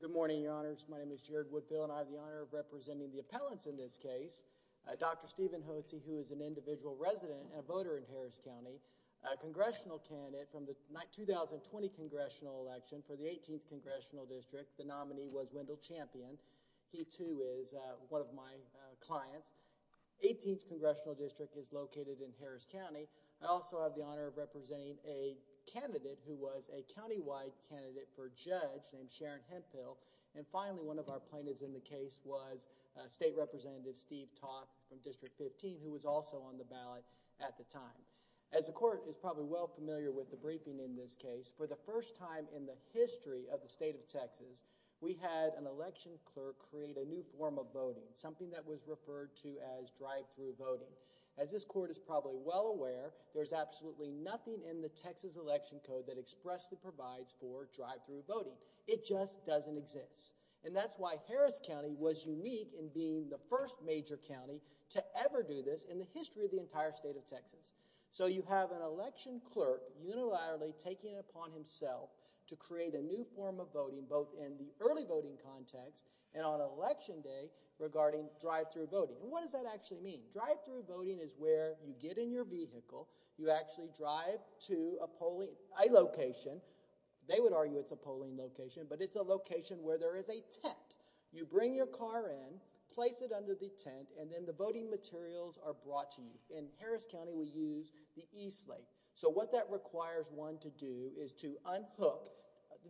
Good morning, your honors. My name is Jared Woodfill, and I have the honor of representing the appellants in this case. Dr. Stephen Hudspeth, who is an individual resident and a voter in Harris County, a congressional candidate from the 2020 congressional election for the 18th congressional district. The nominee was Wendell Champion. He too is one of my clients. 18th congressional district is located in Harris County. I also have the honor of representing a candidate who was a countywide candidate for judge named Sharon Hemphill. And finally, one of our plaintiffs in the case was State Representative Steve Toth from District 15, who was also on the ballot at the time. As the court is probably well familiar with the briefing in this case, for the first time in the history of the state of Texas, we had an election clerk create a new form of voting, something that was referred to as drive-through voting. As this court is probably well aware, there's absolutely nothing in the Texas election code that expressly provides for drive-through voting. It just doesn't exist. And that's why Harris County was unique in being the first major county to ever do this in the history of the entire state of Texas. So you have an election clerk unilaterally taking it upon himself to create a new form of voting, both in the early voting context and on election day regarding drive-through voting. And what does that actually mean? Drive-through voting is where you get in your vehicle, you actually drive to a polling location. They would argue it's a polling location, but it's a location where there is a tent. You bring your car in, place it under the tent, and then the voting materials are brought to you. In Harris County, we use the e-slate. So what that requires one to do is to unhook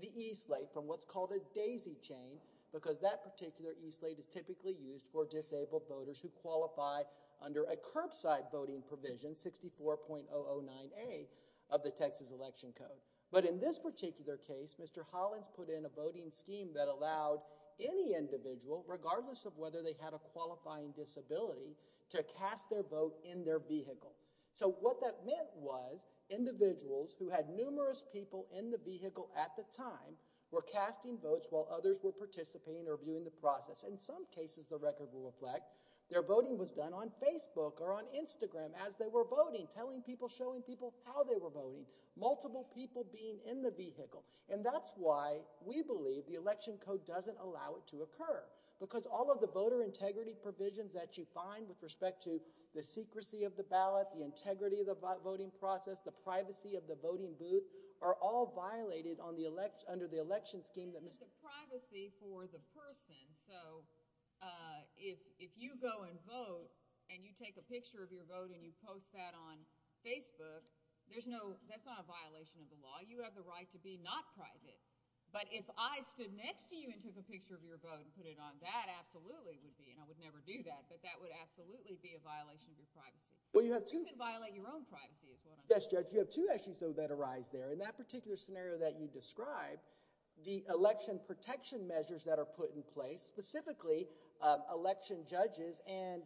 the e-slate from what's called a daisy chain, because that particular e-slate is typically used for disabled voters who qualify under a curbside voting provision, 64.009A of the Texas election code. But in this particular case, Mr. Hollins put in a voting scheme that allowed any individual, regardless of whether they had a qualifying disability, to cast their vote in their vehicle. So what that meant was, individuals who had numerous people in the vehicle at the time were casting votes while others were participating or viewing the process. In some cases, the record will reflect, their voting was done on Facebook or on Instagram as they were voting, telling people, showing people how they were voting, multiple people being in the vehicle. And that's why we believe the election code doesn't allow it to occur, because all of the voter integrity provisions that you find with respect to the secrecy of the ballot, the integrity of the voting process, the privacy of the voting booth, are all violated under the election scheme that Mr. Hollins put in. But the privacy for the person, so if you go and vote and you take a picture of your vote and you post that on Facebook, that's not a violation of the law. You have the right to be not private. But if I stood next to you and took a picture of your vote and put it on, that absolutely would be, and I would never do that, but that would absolutely be a violation of your privacy. You can violate your own privacy, is what I'm saying. Yes, Judge, you have two issues, though, that arise there. In that particular scenario that you describe, the election protection measures that are put in place, specifically election judges, and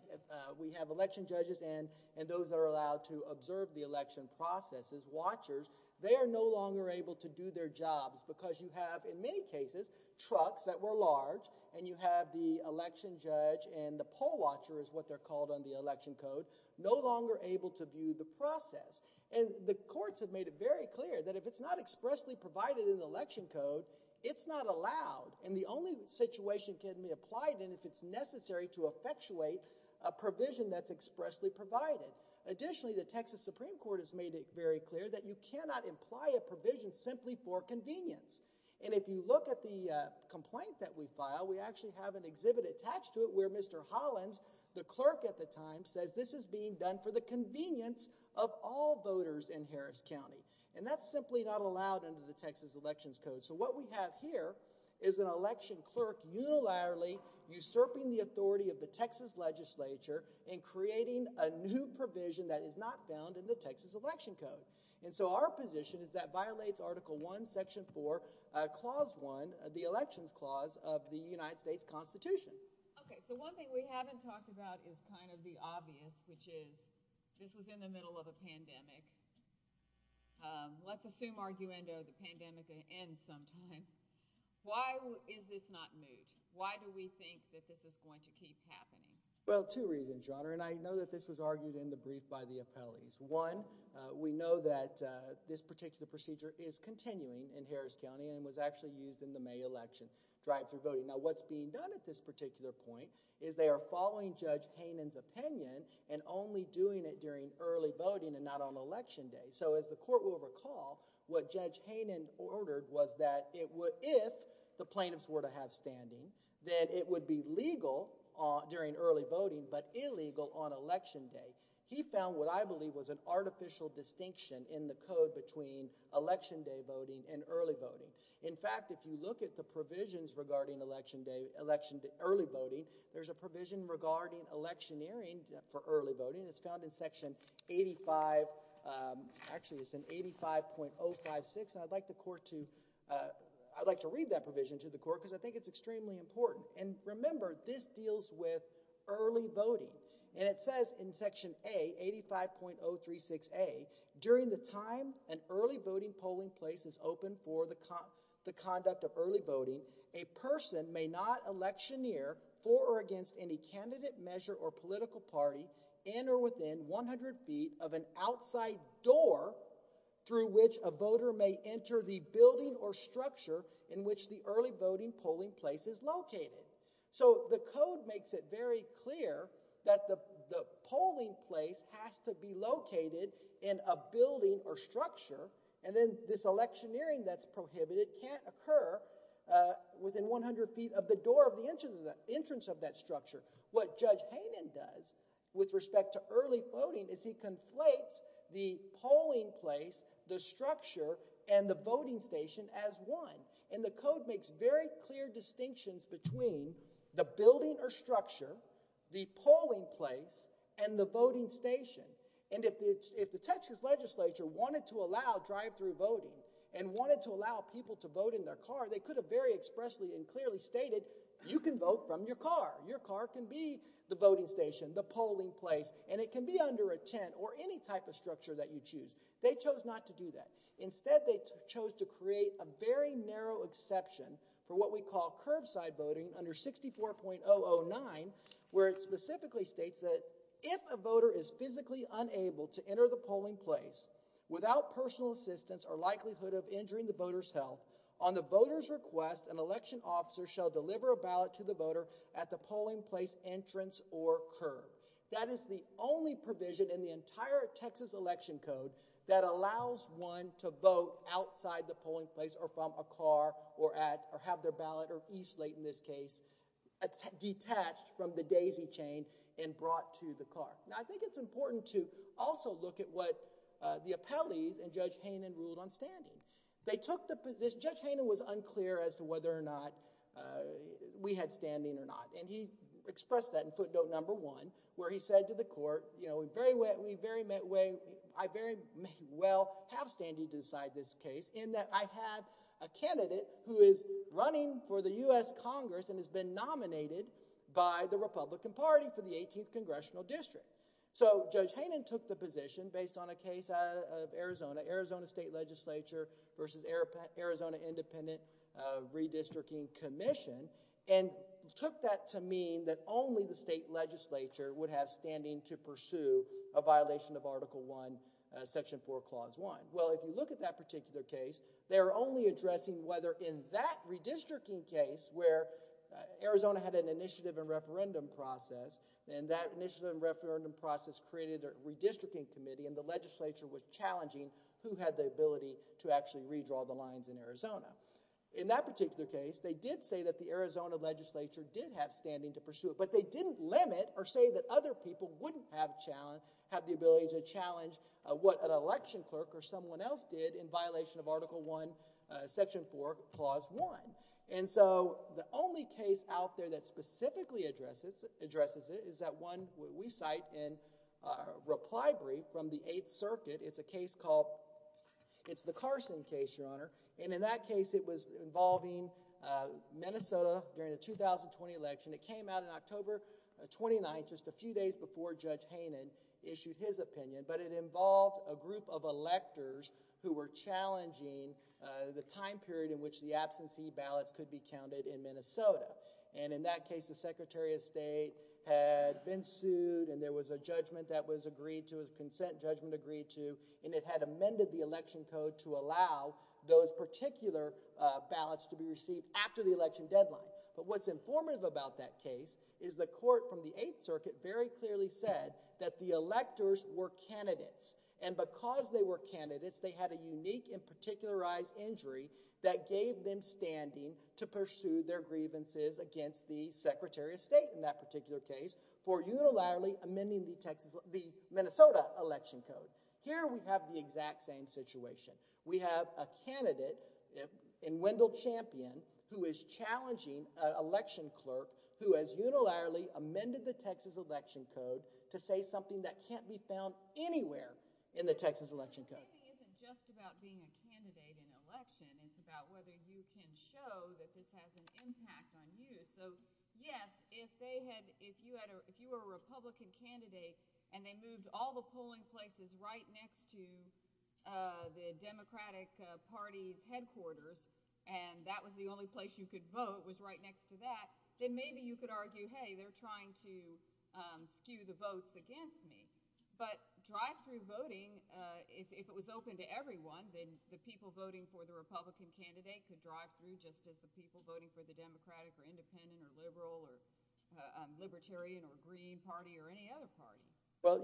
we have election judges and those that are allowed to observe the election processes, watchers, they are no longer able to do their jobs, because you have, in many cases, trucks that were large, and you have the election judge and the poll watcher is what they're called on the election code, no longer able to view the process. And the courts have made it very clear that if it's not expressly provided in the election code, it's not allowed. And the only situation it can be applied in if it's necessary to effectuate a provision that's expressly provided. Additionally, the Texas Supreme Court has made it very clear that you cannot imply a provision simply for convenience. And if you look at the complaint that we filed, we actually have an exhibit attached to it where Mr. Hollins, the clerk at the time, says this is being done for the convenience of all voters in Harris County. And that's simply not allowed under the Texas Elections Code. So what we have here is an election clerk unilaterally usurping the authority of the Texas legislature in creating a new provision that is not found in the Texas Election Code. And so our position is that violates Article 1, Section 4, Clause 1 of the Elections Clause of the United States Constitution. Okay, so one thing we haven't talked about is kind of the obvious, which is this was in the middle of a pandemic. Let's assume, arguendo, the pandemic ends sometime. Why is this not moot? Why do we think that this is going to keep happening? Well, two reasons, Your Honor, and I know that this was argued in the brief by the appellees. One, we know that this particular procedure is continuing in Harris County and was actually used in the May election, drive-thru voting. Now what's being done at this particular point is they are following Judge Hainan's opinion and only doing it during early voting and not on Election Day. So as the Court will recall, what Judge Hainan ordered was that it would, if the plaintiffs were to have standing, that it would be legal during early voting but illegal on Election Day. He found what I believe was an artificial distinction in the code between Election Day voting and early voting. In fact, if you look at the provisions regarding Election Day, early voting, there's a provision regarding electioneering for early voting. It's found in Section 85, actually it's in 85.056, and I'd like the Court to, I'd like to read that provision to the Court because I think it's extremely important. And remember, this deals with early voting. And it says in Section A, 85.036a, during the time an early voting polling place is open for the conduct of early voting, a person may not electioneer for or against any candidate, measure, or political party in or within 100 feet of an outside door through which a voter may enter the building or structure in which the early voting polling place is located. So the code makes it very clear that the polling place has to be located in a building or structure, and then this electioneering that's prohibited can't occur within 100 feet of the door of the entrance of that structure. What Judge Hainan does with respect to early voting is he conflates the polling place, the structure, and the voting station as one. And the code makes very clear distinctions between the building or structure, the polling place, and the voting station. And if the Texas Legislature wanted to allow drive-through voting and wanted to allow people to vote in their car, they could have very expressly and clearly stated, you can vote from your car. Your car can be the voting station, the polling place, and it can be under a tent or any type of structure that you choose. They chose not to do that. Instead, they chose to create a very narrow exception for what we call curbside voting under 64.009, where it specifically states that if a voter is physically unable to enter the polling place without personal assistance or likelihood of injuring the voter's health, on the voter's request, an election officer shall deliver a ballot to the voter at the polling place entrance or curb. That is the only provision in the entire Texas election code that allows one to vote outside the polling place or from a car or have their ballot, or e-slate in this case, detached from the daisy chain and brought to the car. Now, I think it's important to also look at what the appellees and Judge Haynen ruled on standing. Judge Haynen was unclear as to whether or not we had standing or not. And he expressed that in footnote number one, where he said to the court, I very well have standing to decide this case, in that I have a candidate who is running for the U.S. Congress and has been nominated by the Republican Party for the 18th Congressional District. So Judge Haynen took the position, based on a case out of Arizona, Arizona State Legislature versus Arizona Independent Redistricting Commission, and took that to mean that only the state legislature would have standing to pursue a violation of Article I, Section 4, Clause 1. Well, if you look at that particular case, they're only addressing whether in that redistricting case, where Arizona had an initiative and referendum process, and that initiative and referendum process created a redistricting committee, and the legislature was challenging who had the ability to actually redraw the state legislature in Arizona. In that particular case, they did say that the Arizona legislature did have standing to pursue it, but they didn't limit or say that other people wouldn't have a challenge, have the ability to challenge what an election clerk or someone else did in violation of Article I, Section 4, Clause 1. And so the only case out there that specifically addresses it is that one we cite in our reply brief from the Eighth Circuit. It's a case called, it's the Carson case, Your Honor, and in that case, it was involving Minnesota during the 2020 election. It came out on October 29th, just a few days before Judge Haynen issued his opinion, but it involved a group of electors who were challenging the time period in which the absentee ballots could be counted in Minnesota, and in that case, the Secretary of State had been sued and there was a judgment that was agreed to, a consent judgment agreed to, and it had amended the election code to allow those particular ballots to be received after the election deadline. But what's informative about that case is the court from the Eighth Circuit very clearly said that the electors were candidates, and because they were candidates, they had a unique and particularized injury that gave them standing to pursue their grievances against the Secretary of State in that particular case for unilaterally amending the Minnesota election code. Here we have the exact same situation. We have a candidate in Wendell Champion who is challenging an election clerk who has unilaterally amended the Texas election code to say something that can't be found anywhere in the Texas election code. So, I think it isn't just about being a candidate in an election. It's about whether you can show that this has an impact on you. So, yes, if they had, if you were a Republican candidate and they moved all the polling places right next to the Democratic Party's headquarters and that was the only place you could vote was right next to that, then maybe you could argue, hey, they're trying to skew the votes against me. But drive-thru voting, if it was open to everyone, then the people voting for the Republican candidate could drive-thru just as the people voting for the Democratic or Independent or Liberal or Libertarian or Green Party or any other party. Well,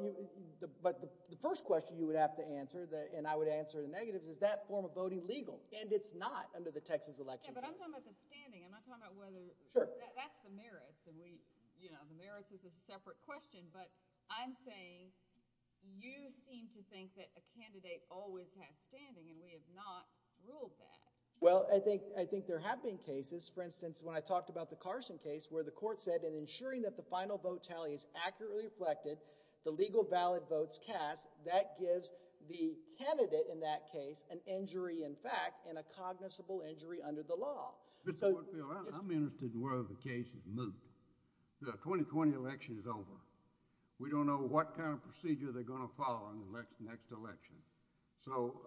but the first question you would have to answer, and I would answer the negatives, is that form of voting legal? And it's not under the Texas election code. Yeah, but I'm talking about the standing. I'm not talking about whether that's the merits. You know, the merits is a separate question, but I'm saying you seem to think that a candidate always has standing and we have not ruled that. Well, I think there have been cases, for instance, when I talked about the Carson case where the court said in ensuring that the final vote tally is accurately reflected, the legal valid votes cast, that gives the candidate in that case an injury in fact and a cognizable injury under the law. Mr. Whitefield, I'm interested in whether the case is moved. The 2020 election is over. We don't know what kind of procedure they're going to follow in the next election. So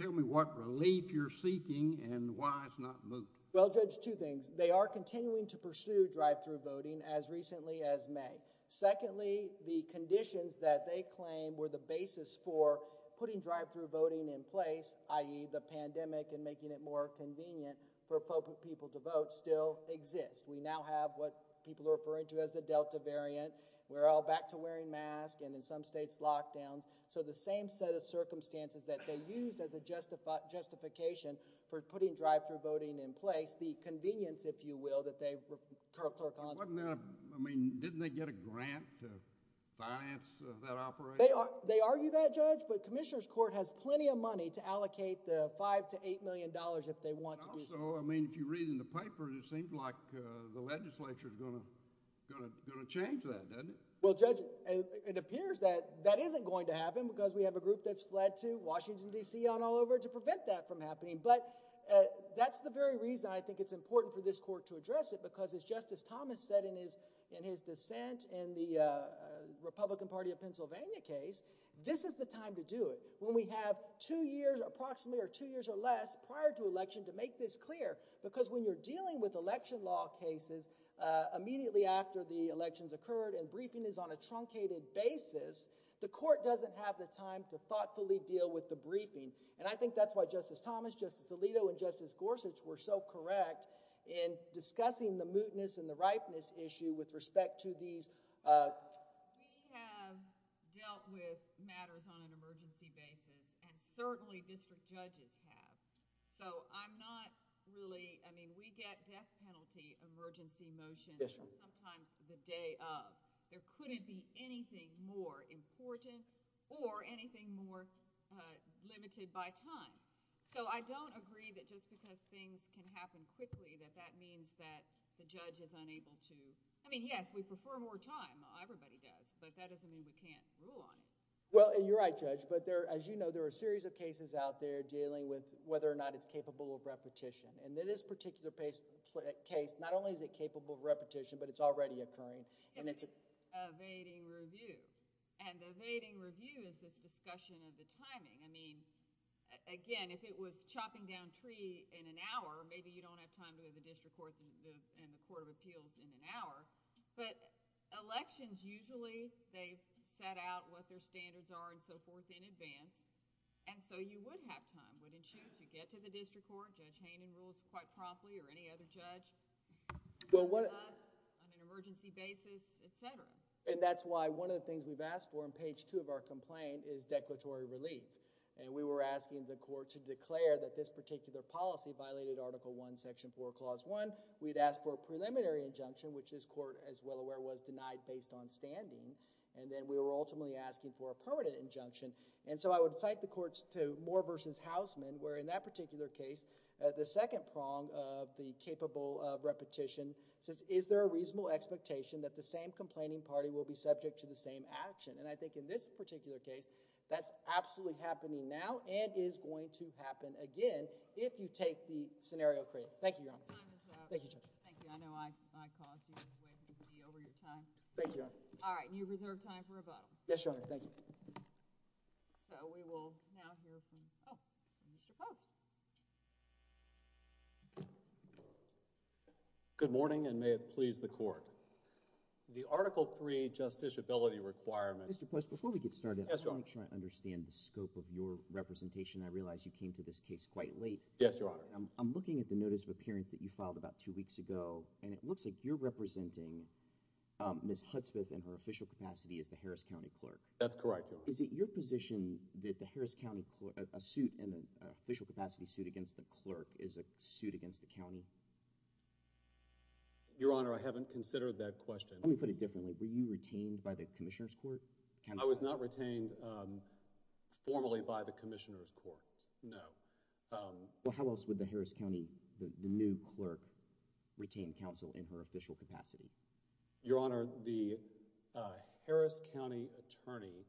tell me what relief you're seeking and why it's not moved. Well, Judge, two things. They are continuing to pursue drive-thru voting as recently as May. Secondly, the conditions that they claim were the basis for putting drive-thru voting in place, i.e. the pandemic and making it more convenient for people to vote still exist. We now have what people are referring to as the Delta variant. We're all back to wearing masks and in some states, lockdowns. So the same set of circumstances that they used as a justification for putting drive-thru voting in place, the convenience, if you will, that they clerked on. Wasn't that, I mean, didn't they get a grant to finance that operation? They argue that, Judge, but Commissioner's Court has plenty of money to allocate the five to eight million dollars if they want to do so. I mean, if you read in the paper, it seems like the legislature is going to change that, doesn't it? Well, Judge, it appears that that isn't going to happen because we have a group that's fled to Washington, D.C. on all over to prevent that from happening. But that's the very reason I think it's important for this court to address it, because it's just as Thomas said in his dissent in the Republican Party of Pennsylvania case, this is the time to do it. When we have two years approximately or two years or less prior to election to make this clear, because when you're dealing with election law cases immediately after the elections occurred and briefing is on a truncated basis, the court doesn't have the time to thoughtfully deal with the briefing. And I think that's why Justice Thomas, Justice Alito, and Justice Gorsuch were so correct in discussing the mootness and the ripeness issue with respect to these... We have dealt with matters on an emergency basis and certainly district judges have. So I'm not really... I mean, we get death penalty emergency motions sometimes the day of. There couldn't be anything more important or anything more limited by time. So I don't agree that just because things can happen quickly that that means that the judge is unable to... I mean, yes, we prefer more time. Everybody does. But that doesn't mean we can't rule on it. Well, you're right, Judge. But as you know, there are a series of cases out there dealing with whether or not it's capable of repetition. And in this particular case, not only is it capable of repetition, but it's already occurring. And it's evading review. And evading review is this discussion of the timing. I mean, again, if it was chopping down a tree in an hour, maybe you don't have time to go to the district court and the court of appeals in an hour. But elections, usually, they set out what their standards are and so forth in advance. And so you would have time, wouldn't you, to get to the district court? Judge Hannon rules quite promptly or any other judge. But what... On an emergency basis, et cetera. And that's why one of the things we've asked for on page two of our complaint is declaratory relief. And we were asking the court to declare that this particular policy violated Article I, Section 4, Clause 1. We'd asked for a preliminary injunction, which this court, as well aware, was denied based on standing. And then we were ultimately asking for a permanent injunction. And so I would cite the courts to Moore v. Hausman, where in that particular case, the second prong of the capable of repetition says, is there a reasonable expectation that the same complaining party will be subject to the same action? And I think in this particular case, that's absolutely happening now and is going to happen again if you take the scenario Thank you, Your Honor. Time is up. Thank you, Judge. Thank you. I know I caused you to be over your time. Thank you, Your Honor. All right. You reserve time for rebuttal. Yes, Your Honor. Thank you. So we will now hear from Mr. Post. Good morning and may it please the court. The Article III justiciability requirement... Mr. Post, before we get started... Yes, Your Honor.... I want to make sure I understand the scope of your representation. I realize you came to this case quite late. Yes, Your Honor. I'm looking at the notice of appearance that you filed about two weeks ago and it looks like you're representing Ms. Hudspeth in her official capacity as the Harris County Clerk. That's correct, Your Honor. Is it your position that the Harris County... a suit in an official capacity suit against the clerk is a suit against the county? Your Honor, I haven't considered that question. Let me put it differently. Were you retained by the Commissioner's Court? I was not retained formally by the Commissioner's Court, no. Well, how else would the Harris County, the new clerk, retain counsel in her official capacity? Your Honor, the Harris County attorney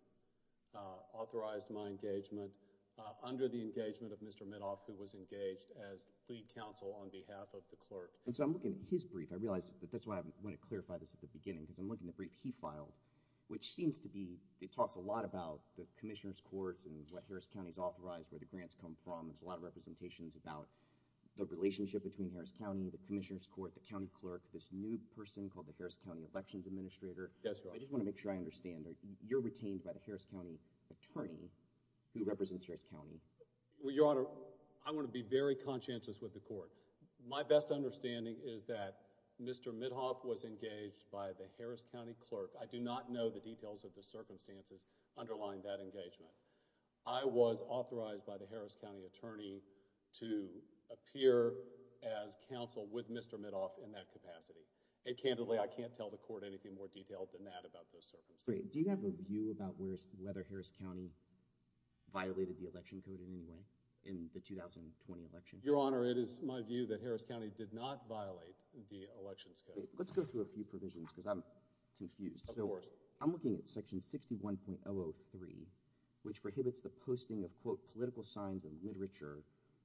authorized my engagement under the engagement of Mr. Mitoff, who was engaged as lead counsel on behalf of the clerk. And so I'm looking at his brief. I realize that's why I want to clarify this at the beginning because I'm looking at the brief he filed, which seems to be... it talks a lot about the Commissioner's Court and what Harris County is authorized, where the grants come from. There's a lot of representations about the relationship between Harris County, the Commissioner's Court, the county clerk, this new person called the Harris County Elections Administrator. Yes, Your Honor. I just want to make sure I understand. You're retained by the Harris County attorney who represents Harris County. Well, Your Honor, I want to be very conscientious with the court. My best understanding is that Mr. Mitoff was engaged by the Harris County clerk. I do not know the details of the circumstances underlying that engagement. I was authorized by the Harris County attorney to appear as counsel with Mr. Mitoff in that capacity. And candidly, I can't tell the court anything more detailed than that about those circumstances. Great. Do you have a view about whether Harris County violated the election code in any way in the 2020 election? Your Honor, it is my view that Harris County did not violate the elections code. Let's go through a few provisions because I'm confused. Of course. First, I'm looking at section 61.003, which prohibits the posting of, quote, political signs and literature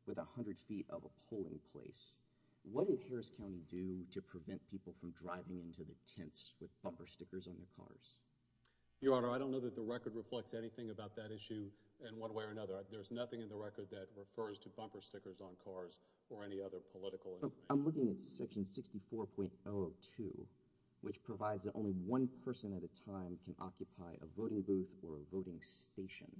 with 100 feet of a polling place. What did Harris County do to prevent people from driving into the tents with bumper stickers on their cars? Your Honor, I don't know that the record reflects anything about that issue in one way or another. There's nothing in the record that refers to bumper stickers on cars or any other political I'm looking at section 64.002, which provides that only one person at a time can occupy a voting booth or a voting station.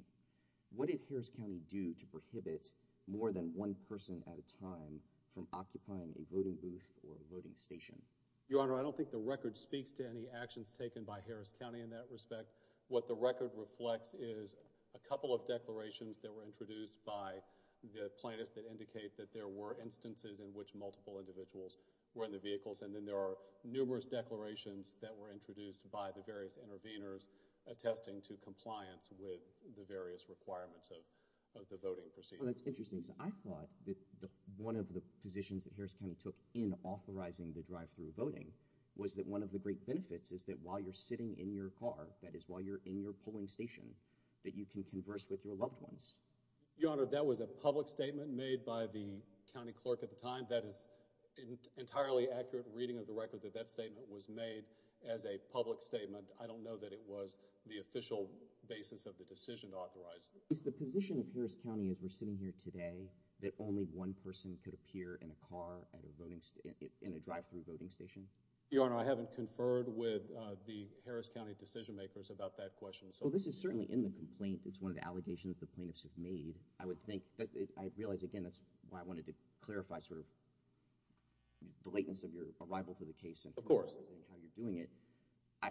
What did Harris County do to prohibit more than one person at a time from occupying a voting booth or a voting station? Your Honor, I don't think the record speaks to any actions taken by Harris County in that respect. What the record reflects is a couple of declarations that were introduced by the multiple individuals who were in the vehicles, and then there are numerous declarations that were introduced by the various intervenors attesting to compliance with the various requirements of the voting procedure. Well, that's interesting. I thought that one of the positions that Harris County took in authorizing the drive-thru voting was that one of the great benefits is that while you're sitting in your car, that is while you're in your polling station, that you can converse with your loved ones. Your Honor, that was a public statement made by the county clerk at the time. That is an entirely accurate reading of the record that that statement was made as a public statement. I don't know that it was the official basis of the decision to authorize it. Is the position of Harris County as we're sitting here today that only one person could appear in a car at a voting, in a drive-thru voting station? Your Honor, I haven't conferred with the Harris County decision makers about that question. Well, this is certainly in the complaint. It's one of the allegations the plaintiffs have made. I would think, I realize again that's why I wanted to clarify sort of the lateness of your arrival to the case and how you're doing it. Of course.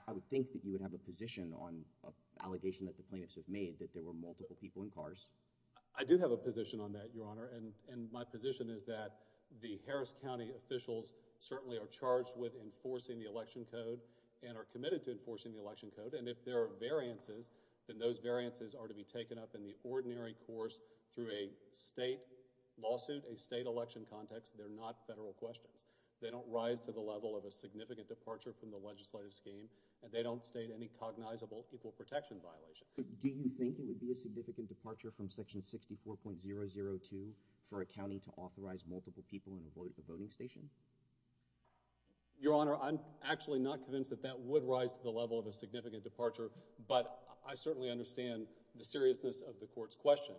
I would think that you would have a position on an allegation that the plaintiffs have made that there were multiple people in cars. I do have a position on that, Your Honor, and my position is that the Harris County Election Code, and if there are variances, then those variances are to be taken up in the ordinary course through a state lawsuit, a state election context. They're not federal questions. They don't rise to the level of a significant departure from the legislative scheme, and they don't state any cognizable equal protection violation. Do you think it would be a significant departure from Section 64.002 for a county to authorize multiple people in a voting station? Your Honor, I'm actually not convinced that that would rise to the level of a significant departure, but I certainly understand the seriousness of the Court's question.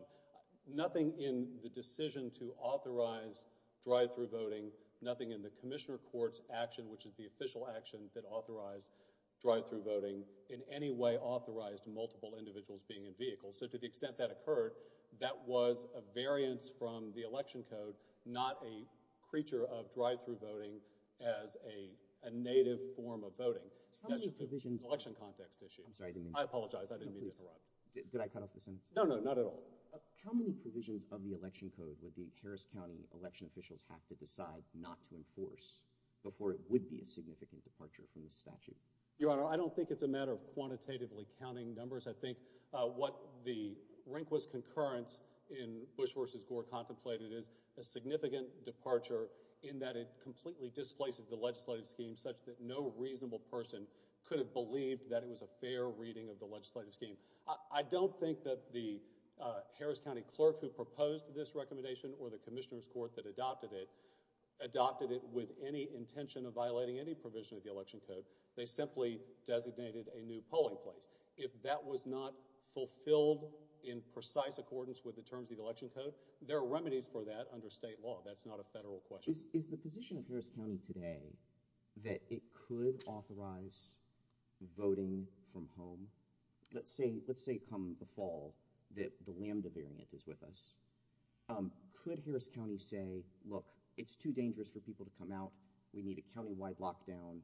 Nothing in the decision to authorize drive-through voting, nothing in the Commissioner Court's action, which is the official action that authorized drive-through voting, in any way authorized multiple individuals being in vehicles. So to the extent that occurred, that was a drive-through voting as a native form of voting. That's just an election context issue. I'm sorry, I didn't mean to interrupt. I apologize. I didn't mean to interrupt. Did I cut off the sentence? No, no, not at all. How many provisions of the election code would the Harris County election officials have to decide not to enforce before it would be a significant departure from the statute? Your Honor, I don't think it's a matter of quantitatively counting numbers. I think what the Rehnquist concurrence in Bush v. Gore contemplated is a significant departure in that it completely displaces the legislative scheme such that no reasonable person could have believed that it was a fair reading of the legislative scheme. I don't think that the Harris County clerk who proposed this recommendation or the Commissioner's Court that adopted it adopted it with any intention of violating any provision of the election code. They simply designated a new polling place. If that was not fulfilled in precise accordance with the terms of the election code, there are remedies for that under state law. That's not a federal question. Is the position of Harris County today that it could authorize voting from home? Let's say come the fall that the Lambda variant is with us. Could Harris County say, look, it's too dangerous for people to come out. We need a countywide lockdown.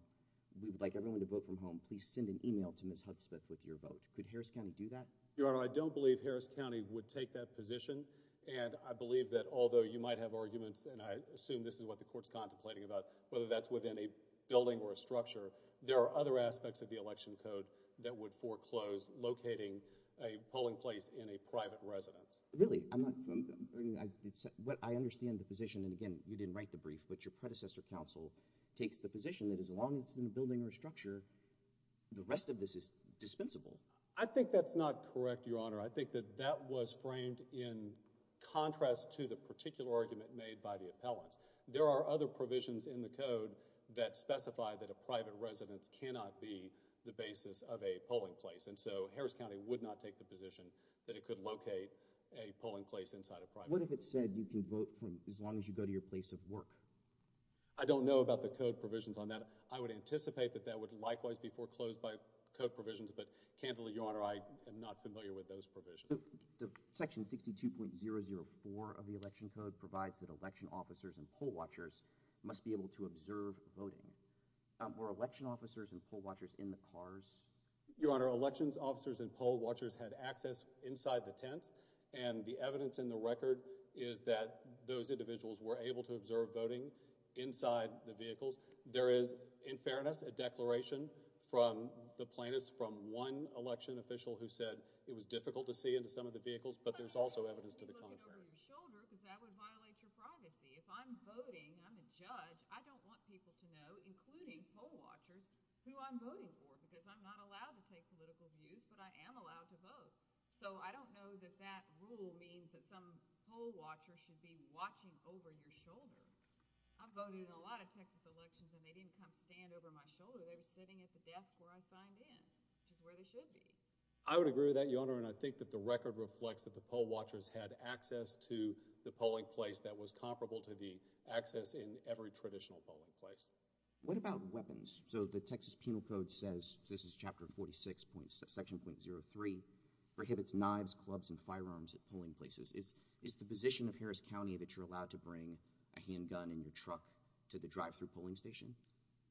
We would like everyone to vote from home. Please send an email to Ms. Hudspeth with your vote. Could Harris County do that? Your Honor, I don't believe Harris County would take that position, and I believe that although you might have arguments, and I assume this is what the Court's contemplating about, whether that's within a building or a structure, there are other aspects of the election code that would foreclose locating a polling place in a private residence. Really? I understand the position, and again, you didn't write the brief, but your predecessor counsel takes the position that as long as it's in a building or a structure, the rest of this is dispensable. I think that's not correct, Your Honor. I think that that was framed in contrast to the particular argument made by the appellants. There are other provisions in the code that specify that a private residence cannot be the basis of a polling place, and so Harris County would not take the position that it could locate a polling place inside a private residence. What if it said you can vote as long as you go to your place of work? I don't know about the code provisions on that. I would anticipate that that would likewise be foreclosed by code provisions, but candidly, Your Honor, I am not familiar with those provisions. Section 62.004 of the election code provides that election officers and poll watchers must be able to observe voting. Were election officers and poll watchers in the cars? Your Honor, election officers and poll watchers had access inside the tents, and the evidence in the record is that those individuals were able to observe voting inside the vehicles. There is, in fairness, a declaration from the plaintiffs from one election official who said it was difficult to see into some of the vehicles, but there's also evidence to the contrary. I'm looking over your shoulder because that would violate your privacy. If I'm voting, I'm a judge. I don't want people to know, including poll watchers, who I'm voting for because I'm not allowed to take political views, but I am allowed to vote. So, I don't know that that rule means that some poll watcher should be watching over your shoulder. I'm voting in a lot of Texas elections, and they didn't come stand over my shoulder. They were sitting at the desk where I signed in, which is where they should be. I would agree with that, Your Honor, and I think that the record reflects that the poll watchers had access to the polling place that was comparable to the access in every traditional polling place. What about weapons? So, the Texas Penal Code says, this is Chapter 46, Section .03, prohibits knives, clubs, and firearms at polling places. Is the position of Harris County that you're allowed to bring a handgun in your truck to the drive-through polling station?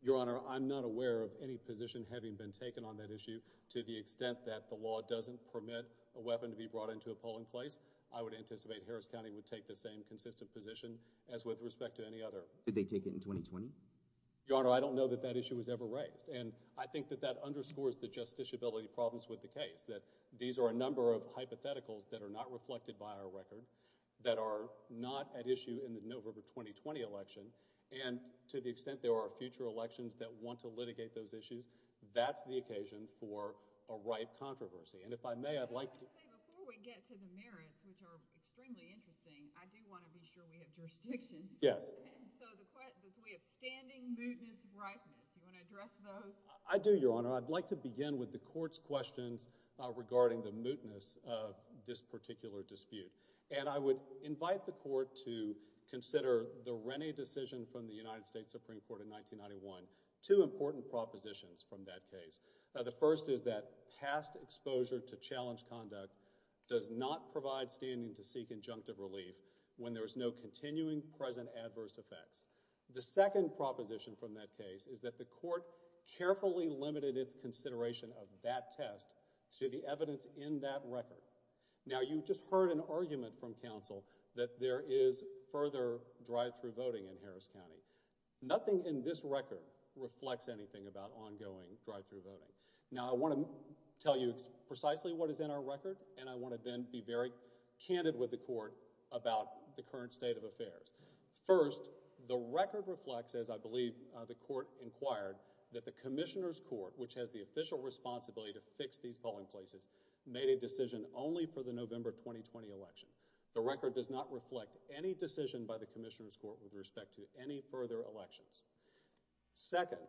Your Honor, I'm not aware of any position having been taken on that issue. To the extent that the law doesn't permit a weapon to be brought into a polling place, I would anticipate Harris County would take the same consistent position as with respect to any other. Did they take it in 2020? Your Honor, I don't know that that issue was ever raised, and I think that that underscores the justiciability problems with the case, that these are a number of hypotheticals that are not reflected by our record, that are not at issue in the November 2020 election, and to the extent there are future elections that want to litigate those issues, that's the occasion for a ripe controversy, and if I may, I'd like to... Before we get to the merits, which are extremely interesting, I do want to be sure we have jurisdiction. Yes. So we have standing, mootness, ripeness. Do you want to address those? I do, Your Honor. I'd like to begin with the Court's questions regarding the mootness of this particular dispute, and I would invite the Court to consider the Rennie decision from the United States Supreme Court in 1991. Two important propositions from that case. The first is that past exposure to challenge conduct does not provide standing to seek conjunctive relief when there is no continuing present adverse effects. The second proposition from that case is that the Court carefully limited its consideration of that test to the evidence in that record. Now, you just heard an argument from counsel that there is further drive-thru voting in Harris County. Nothing in this record reflects anything about ongoing drive-thru voting. Now, I want to tell you precisely what is in our record, and I want to then be very candid with the Court about the current state of affairs. First, the record reflects, as I believe the Court inquired, that the Commissioner's Court, which has the official responsibility to fix these polling places, made a decision only for the November 2020 election. The record does not reflect any decision by the Commissioner's Court with respect to any further elections. Second,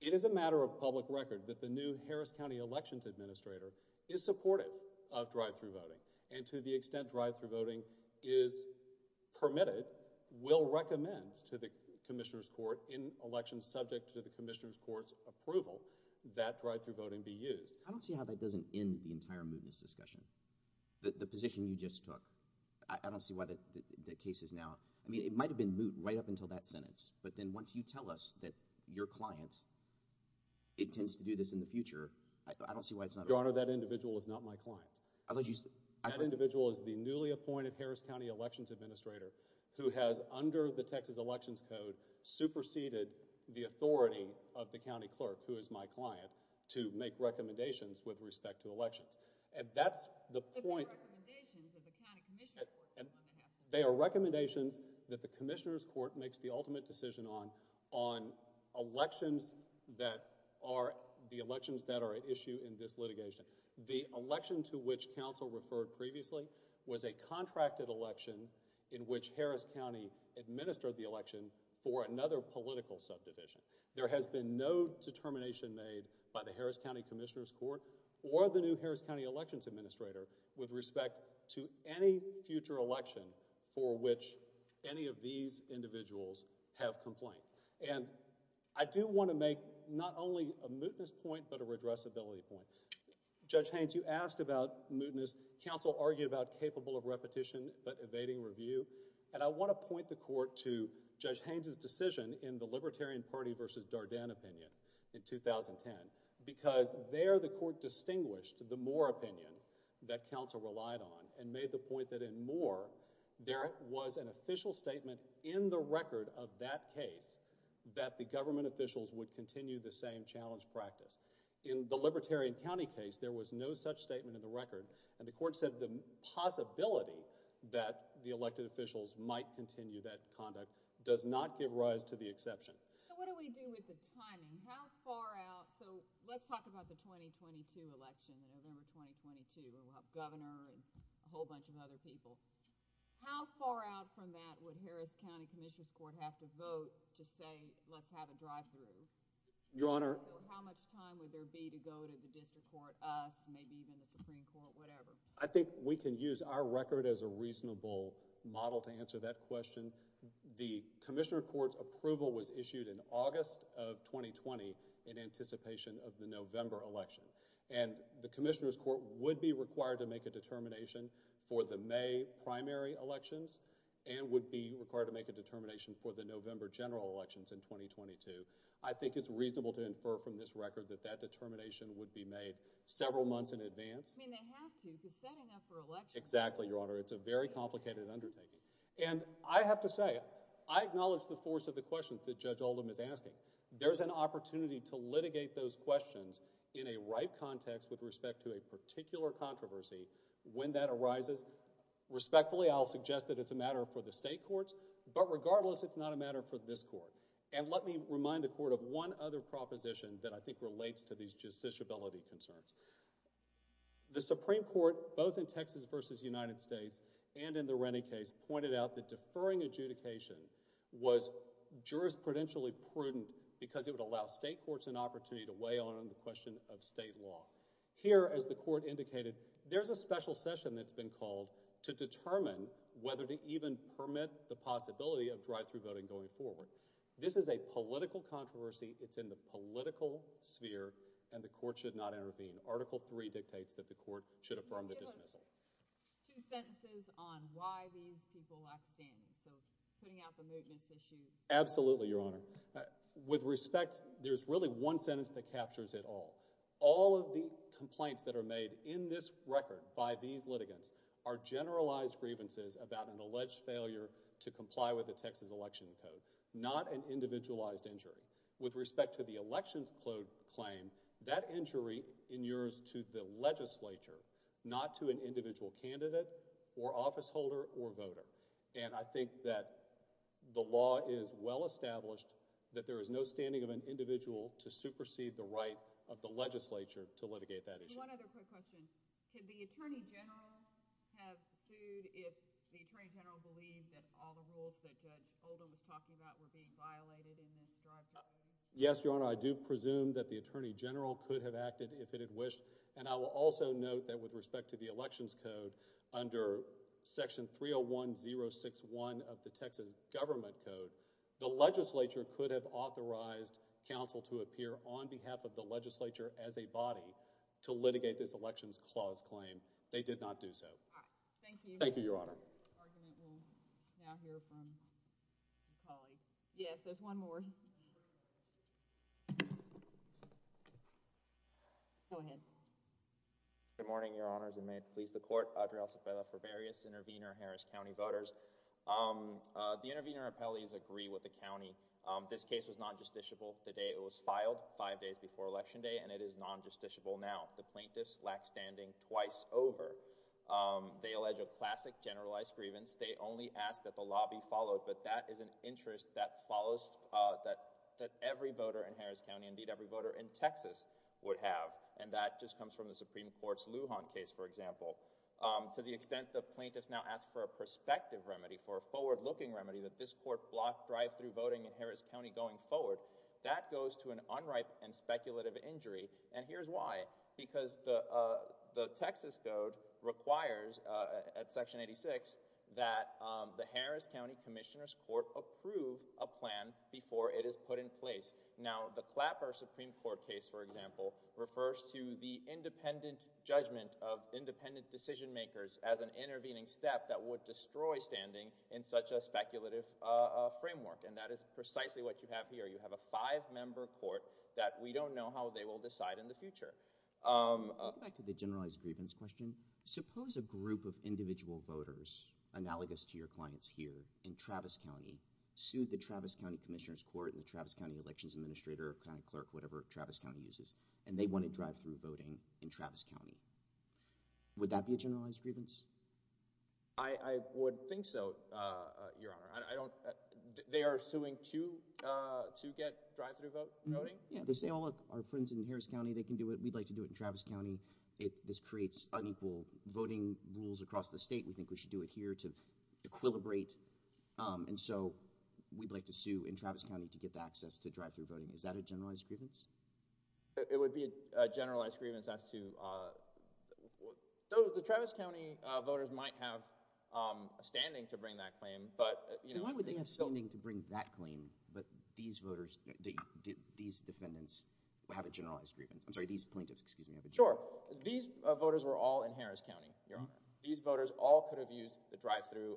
it is a matter of public record that the new Harris County Elections Administrator is supportive of drive-thru voting, and to the extent drive-thru voting is permitted, will recommend to the Commissioner's Court in elections subject to the Commissioner's Court's approval, that drive-thru voting be used. I don't see how that doesn't end the entire mootness discussion. The position you just took, I don't see why the case is now—I mean, it might have been moot right up until that sentence, but then once you tell us that your client intends to do this in the future, I don't see why it's not— Your Honor, that individual is not my client. I thought you said— That individual is the newly appointed Harris County Elections Administrator who has, under the Texas Elections Code, superseded the authority of the County Clerk, who is my client, to make recommendations with respect to elections. And that's the point— But they're recommendations that the County Commissioner's Court is going to have to make. They are recommendations that the Commissioner's Court makes the ultimate decision on, on elections that are—the elections that are at issue in this litigation. The election to which counsel referred previously was a contracted election in which Harris County administered the election for another political subdivision. There has been no determination made by the Harris County Commissioner's Court or the new Harris County Elections Administrator with respect to any future election for which any of these individuals have complaints. And I do want to make not only a mootness point, but a redressability point. Judge Haynes, you asked about mootness. Counsel argued about capable of repetition but evading review. And I want to point the Court to Judge Haynes' decision in the Libertarian Party v. Dardenne opinion in 2010 because there the Court distinguished the Moore opinion that counsel relied on and made the point that in Moore, there was an official statement in the record of that case that the government officials would continue the same challenge practice. In the Libertarian County case, there was no such statement in the record. And the Court said the possibility that the elected officials might continue that conduct does not give rise to the exception. So what do we do with the timing? How far out, so let's talk about the 2022 election, November 2022, where we'll have Governor and a whole bunch of other people. How far out from that would Harris County Commissioner's Court have to vote to say, let's have a drive-thru? Your Honor. How much time would there be to go to the District Court, us, maybe even the Supreme Court, whatever? I think we can use our record as a reasonable model to answer that question. The Commissioner Court's approval was issued in August of 2020 in anticipation of the November election, and the Commissioner's Court would be required to make a determination for the May primary elections and would be required to make a determination for the November general elections in 2022. I think it's reasonable to infer from this record that that determination would be made several months in advance. I mean, they have to be setting up for election. Exactly, Your Honor. It's a very complicated undertaking. And I have to say, I acknowledge the force of the questions that Judge Oldham is asking. There's an opportunity to litigate those questions in a right context with respect to a particular controversy when that arises. Respectfully, I'll suggest that it's a matter for the state courts, but regardless, it's not a matter for this Court. And let me remind the Court of one other proposition that I think relates to these justiciability concerns. The Supreme Court, both in Texas versus United States and in the Rennie case, pointed out that deferring adjudication was jurisprudentially prudent because it would allow state courts an opportunity to weigh on the question of state law. Here, as the Court indicated, there's a special session that's been called to determine whether to even permit the possibility of drive-through voting going forward. This is a political controversy. It's in the political sphere, and the Court should not intervene. Article 3 dictates that the Court should affirm the dismissal. Give us two sentences on why these people lack standing. So, putting out the mootness issue. Absolutely, Your Honor. With respect, there's really one sentence that captures it all. All of the complaints that are made in this record by these litigants are generalized grievances about an alleged failure to comply with the Texas Election Code, not an individualized injury. With respect to the election's claim, that injury inures to the legislature, not to an individual candidate or officeholder or voter. And I think that the law is well-established that there is no standing of an individual to supersede the right of the legislature to litigate that issue. One other quick question. Could the Attorney General have sued if the Attorney General believed that all the rules that Judge Holder was talking about were being violated in this drive-through voting? Yes, Your Honor. I do presume that the Attorney General could have acted if it had wished. And I will also note that with respect to the election's code, under Section 301-061 of the Texas Government Code, the legislature could have authorized counsel to appear on behalf of the legislature as a body to litigate this election's clause claim. They did not do so. Thank you. Thank you, Your Honor. This argument will now hear from my colleague. Yes, there's one more. Go ahead. Good morning, Your Honors, and may it please the Court. Adriel Cepeda for various intervener Harris County voters. The intervener appellees agree with the County. This case was non-justiciable the day it was filed, five days before Election Day, and it is non-justiciable now. The plaintiffs lack standing twice over. They allege a classic generalized grievance. They only ask that the lobby followed, but that is an interest that follows that every voter in Harris County, indeed every voter in Texas, would have, and that just comes from the Supreme Court's Lujan case, for example. To the extent the plaintiffs now ask for a prospective remedy, for a forward-looking remedy that this Court blocked drive-through voting in Harris County going forward, that goes to an unripe and speculative injury, and here's why. Because the Texas Code requires, at Section 86, that the Harris County Commissioner's Court approve a plan before it is put in place. Now, the Clapper Supreme Court case, for example, refers to the independent judgment of independent decision-makers as an intervening step that would destroy standing in such a speculative framework, and that is precisely what you have here. You have a five-member court that we don't know how they will decide in the future. Back to the generalized grievance question, suppose a group of individual voters, analogous to your clients here in Travis County, sued the Travis County Commissioner's Court and the Travis County Elections Administrator or County Clerk, whatever Travis County uses, and they want to drive-through voting in Travis County. Would that be a generalized grievance? I would think so, Your Honor. They are suing to get drive-through voting? Yeah. They say, oh, look, our friends in Harris County, they can do it. We'd like to do it in Travis County. This creates unequal voting rules across the state. We think we should do it here to equilibrate, and so we'd like to sue in Travis County to get the access to drive-through voting. Is that a generalized grievance? It would be a generalized grievance as to—the Travis County voters might have a standing to bring that claim, but— Then why would they have standing to bring that claim, but these voters, these defendants have a generalized grievance? I'm sorry, these plaintiffs, excuse me. Sure. These voters were all in Harris County, Your Honor. These voters all could have used the drive-through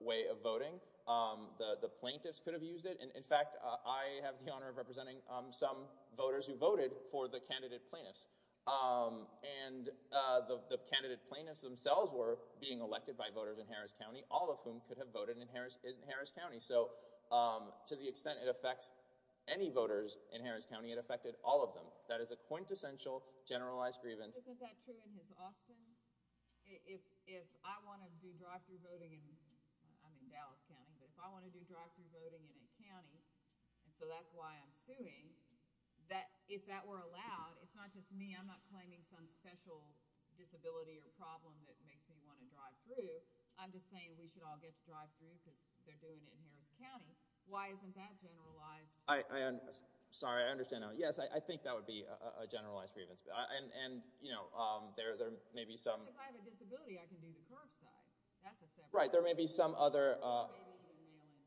way of voting. The plaintiffs could have used it. In fact, I have the honor of representing some voters who voted for the candidate plaintiffs, and the candidate plaintiffs themselves were being elected by voters in Harris County, all of whom could have voted in Harris County, so to the extent it affects any voters in Harris County, it affected all of them. That is a quintessential generalized grievance. Isn't that true in Austin? If I want to do drive-through voting—I'm in Dallas County, but if I want to do drive-through voting in a county, and so that's why I'm suing, if that were allowed, it's not just me. I'm not claiming some special disability or problem that makes me want to drive through. I'm just saying we should all get to drive through because they're doing it in Harris County. Why isn't that generalized? Sorry, I understand now. Yes, I think that would be a generalized grievance, and, you know, there may be some— If I have a disability, I can do the curbside. That's a separate— Right, there may be some other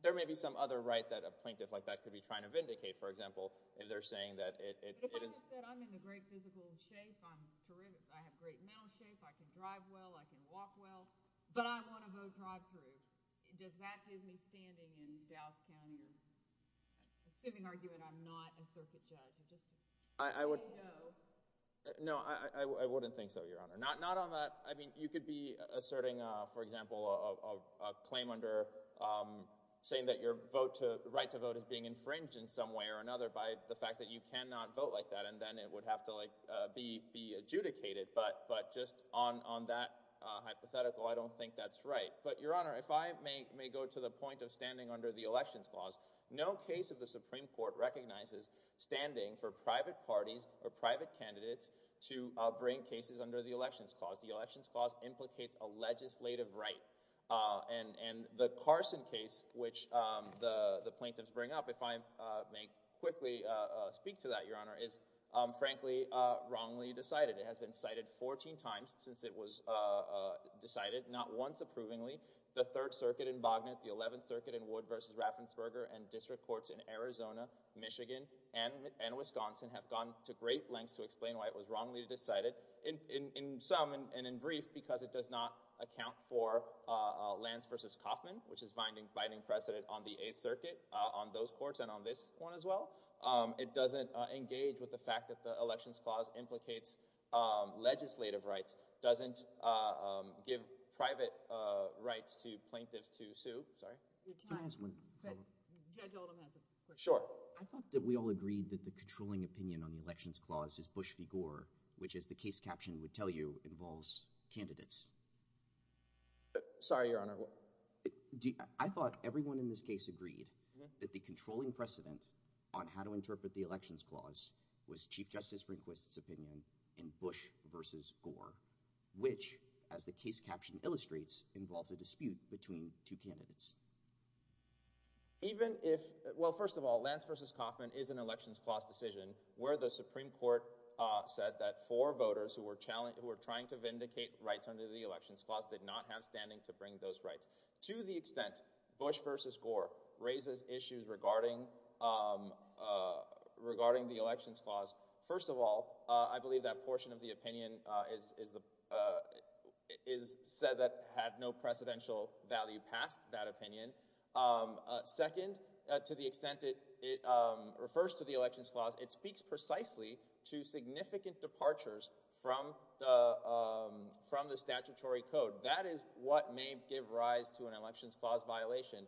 right that a plaintiff like that could be trying to vindicate, for example, if they're saying that it is— But if I just said I'm in great physical shape, I'm terrific, I have great mental shape, I can drive well, I can walk well, but I want to vote drive-through, does that give me standing in Dallas County or—assuming argument I'm not a circuit judge. I would— No. No, I wouldn't think so, Your Honor. Not on that—I mean, you could be asserting, for example, a claim under—saying that your vote to—right to vote is being infringed in some way or another by the fact that you cannot vote like that, and then it would have to, like, be adjudicated, but just on that hypothetical, I don't think that's right. But, Your Honor, if I may go to the point of standing under the Elections Clause, no case of the Supreme Court recognizes standing for private parties or private candidates to bring cases under the Elections Clause. The Elections Clause implicates a legislative right, and the Carson case, which the plaintiffs bring up, if I may quickly speak to that, Your Honor, is frankly wrongly decided. It has been cited 14 times since it was decided, not once approvingly. The Third Circuit in Bognett, the Eleventh Circuit in Wood v. Raffensperger, and district courts in Arizona, Michigan, and Wisconsin have gone to great lengths to say that it was wrongly decided, in sum and in brief, because it does not account for Lance v. Kaufman, which is binding precedent on the Eighth Circuit, on those courts, and on this one as well. It doesn't engage with the fact that the Elections Clause implicates legislative rights, doesn't give private rights to plaintiffs to sue—sorry? Can I ask one follow-up? Judge Oldham has a question. Sure. I thought that we all agreed that the controlling opinion on the Elections Clause is Bush v. Gore, which, as the case caption would tell you, involves candidates. Sorry, Your Honor. I thought everyone in this case agreed that the controlling precedent on how to interpret the Elections Clause was Chief Justice Rehnquist's opinion in Bush v. Gore, which, as the case caption illustrates, involves a dispute between two candidates. Even if—well, first of all, Lance v. Kaufman is an Elections Clause decision where the Supreme Court said that four voters who were trying to vindicate rights under the Elections Clause did not have standing to bring those rights. To the extent Bush v. Gore raises issues regarding the Elections Clause, first of all, I believe that portion of the opinion is said that had no precedential value past that opinion. Second, to the extent it refers to the Elections Clause, it speaks precisely to significant departures from the statutory code. That is what may give rise to an Elections Clause violation.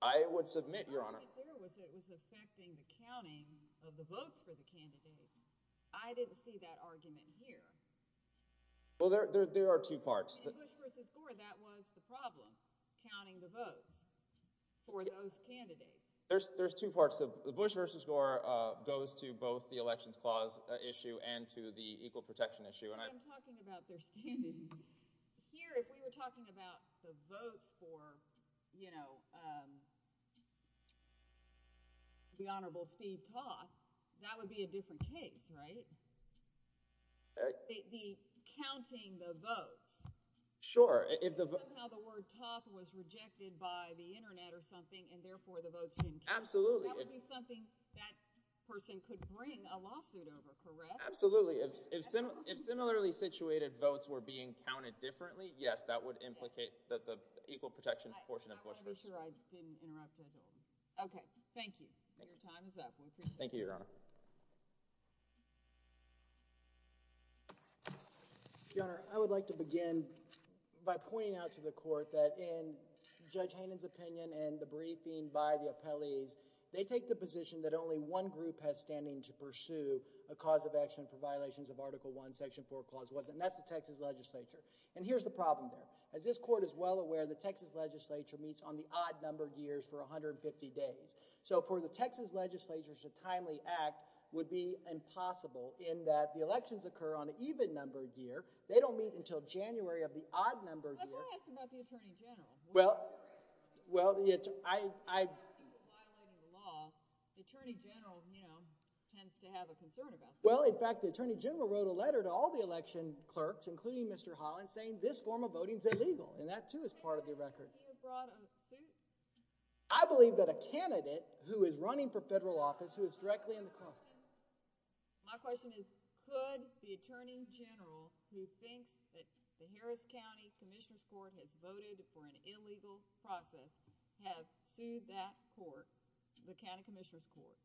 I would submit, Your Honor— The argument there was that it was affecting the counting of the votes for the candidates. I didn't see that argument here. Well, there are two parts. In Bush v. Gore, that was the problem, counting the votes for those candidates. There's two parts. The Bush v. Gore goes to both the Elections Clause issue and to the Equal Protection issue. But I'm talking about their standing. Here, if we were talking about the votes for, you know, the Honorable Steve Toth, that would be a different case, right? The counting the votes. Sure. If somehow the word Toth was rejected by the Internet or something, and therefore the votes didn't count, that would be something that person could bring a lawsuit over, correct? Absolutely. If similarly situated votes were being counted differently, yes, that would implicate that the Equal Protection portion of Bush v. Gore— I want to be sure I didn't interrupt you. Okay, thank you. Your time is up. We appreciate it. Thank you, Your Honor. Your Honor, I would like to begin by pointing out to the Court that in Judge Hannon's opinion and the briefing by the appellees, they take the position that only one group has standing to pursue a cause of action for violations of Article I, Section 4, Clause 1. And that's the Texas Legislature. And here's the problem there. As this Court is well aware, the Texas Legislature meets on the odd-numbered years for 150 days. So, for the Texas Legislature to timely act would be impossible in that the elections occur on an even-numbered year. They don't meet until January of the odd-numbered year. That's why I asked about the Attorney General. Well, I— Well, there are people violating the law. The Attorney General, you know, tends to have a concern about that. Well, in fact, the Attorney General wrote a letter to all the election clerks, including Mr. Holland, saying this form of voting is illegal. And that, too, is part of the record. Do you think he would have brought a suit? I believe that a candidate who is running for federal office, who is directly in the cause— My question is, could the Attorney General, who thinks that the Harris County Commissioner's for an illegal process, have sued that court, the County Commissioner's Court?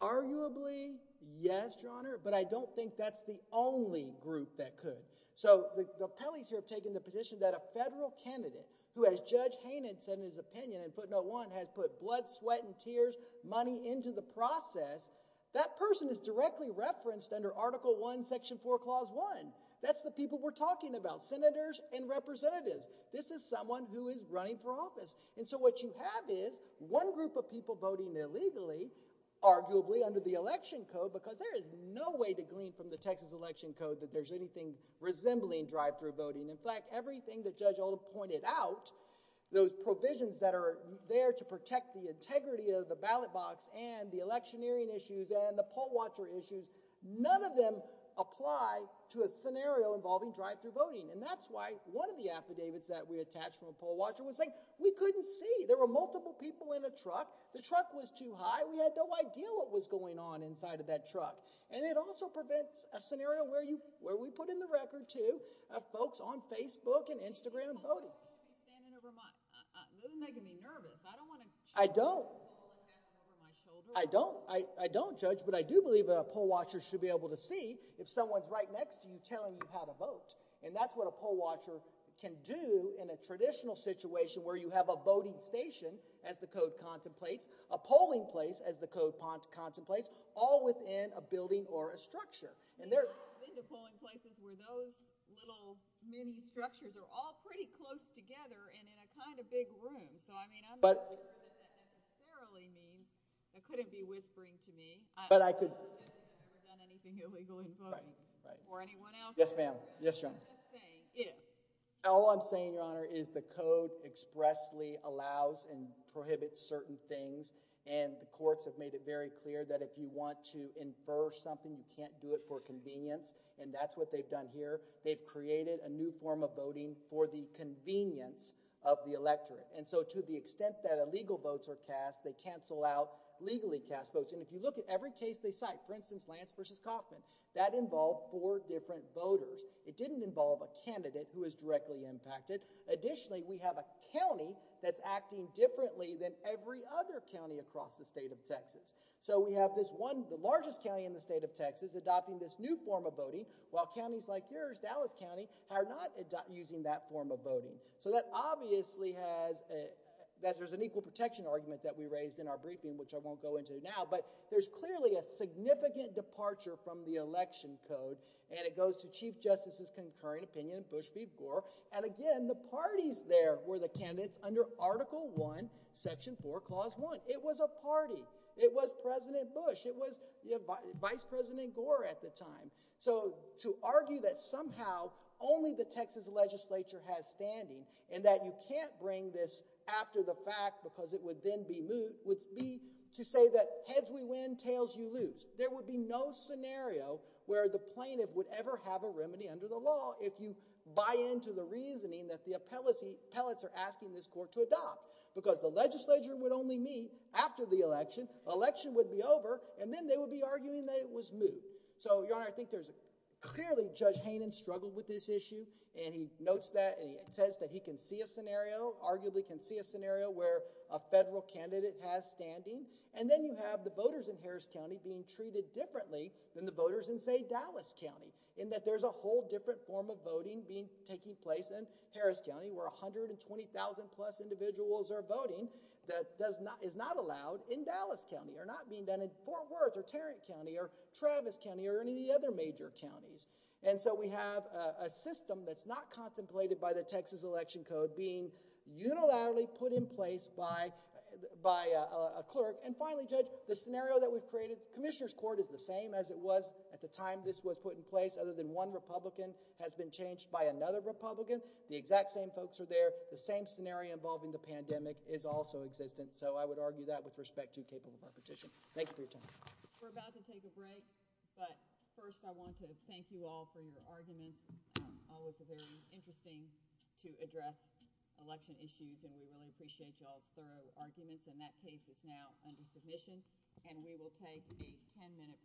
Arguably, yes, Your Honor. But I don't think that's the only group that could. So, the appellees here have taken the position that a federal candidate who, as Judge Hainan said in his opinion in footnote one, has put blood, sweat, and tears, money into the process, that person is directly referenced under Article I, Section 4, Clause 1. That's the people we're talking about, senators and representatives. This is someone who is running for office. And so what you have is one group of people voting illegally, arguably under the election code, because there is no way to glean from the Texas election code that there's anything resembling drive-thru voting. In fact, everything that Judge Oldham pointed out, those provisions that are there to protect the integrity of the ballot box and the electioneering issues and the poll watcher issues, none of them apply to a scenario involving drive-thru voting. And that's why one of the affidavits that we attached from a poll watcher was saying we couldn't see. There were multiple people in a truck. The truck was too high. We had no idea what was going on inside of that truck. And it also prevents a scenario where we put in the record to folks on Facebook and Instagram voting. I don't judge, but I do believe a poll watcher should be able to see if someone's right next to you telling you how to vote. And that's what a poll watcher can do in a traditional situation where you have a voting station, as the code contemplates, a polling place, as the code contemplates, all within a building or a structure. And I've been to polling places where those little mini structures are all pretty close together and in a kind of big room. So I mean, I'm not sure that that necessarily means they couldn't be whispering to me. But I could. I don't suggest that I've ever done anything illegal in voting. Right. Or anyone else. Yes, ma'am. Yes, John. All I'm saying, Your Honor, is the code expressly allows and prohibits certain things. And the courts have made it very clear that if you want to infer something, you can't do it for convenience. And that's what they've done here. They've created a new form of voting for the convenience of the electorate. And so to the extent that illegal votes are cast, they cancel out legally cast votes. And if you look at every case they cite, for instance, Lance versus Kaufman, that involved four different voters. It didn't involve a candidate who was directly impacted. Additionally, we have a county that's acting differently than every other county across the state of Texas. So we have this one, the largest county in the state of Texas, adopting this new form of voting, while counties like yours, Dallas County, are not using that form of voting. So that obviously has, that there's an equal protection argument that we raised in our briefing, which I won't go into now. But there's clearly a significant departure from the election code. And it goes to Chief Justice's concurring opinion, Bush v. Gore. And again, the parties there were the candidates under Article I, Section 4, Clause 1. It was a party. It was President Bush. It was Vice President Gore at the time. So to argue that somehow only the Texas legislature has standing, and that you can't bring this after the fact, because it would then be moot, would be to say that heads we win, tails you lose. There would be no scenario where the plaintiff would ever have a remedy under the law if you buy into the reasoning that the appellates are asking this court to adopt. Because the legislature would only meet after the election. Election would be over. And then they would be arguing that it was moot. So, Your Honor, I think there's clearly Judge Hayden struggled with this issue. And he notes that. It says that he can see a scenario, arguably can see a scenario where a federal candidate has standing. And then you have the voters in Harris County being treated differently than the voters in, say, Dallas County, in that there's a whole different form of voting being taking place in Harris County, where 120,000 plus individuals are voting that is not allowed in Dallas County, or not being done in Fort Worth, or Tarrant County, or Travis County, or any of the other major counties. And so we have a system that's not contemplated by the Texas Election Code being unilaterally put in place by a clerk. And finally, Judge, the scenario that we've created, Commissioner's Court is the same as it was at the time this was put in place, other than one Republican has been changed by another Republican. The exact same folks are there. The same scenario involving the pandemic is also existent. So I would argue that with respect to capable repetition. Thank you for your time. We're about to take a break. But first, I want to thank you all for your arguments. Always very interesting to address election issues. And we really appreciate y'all's thorough arguments. And that case is now under submission. And we will take a 10-minute break.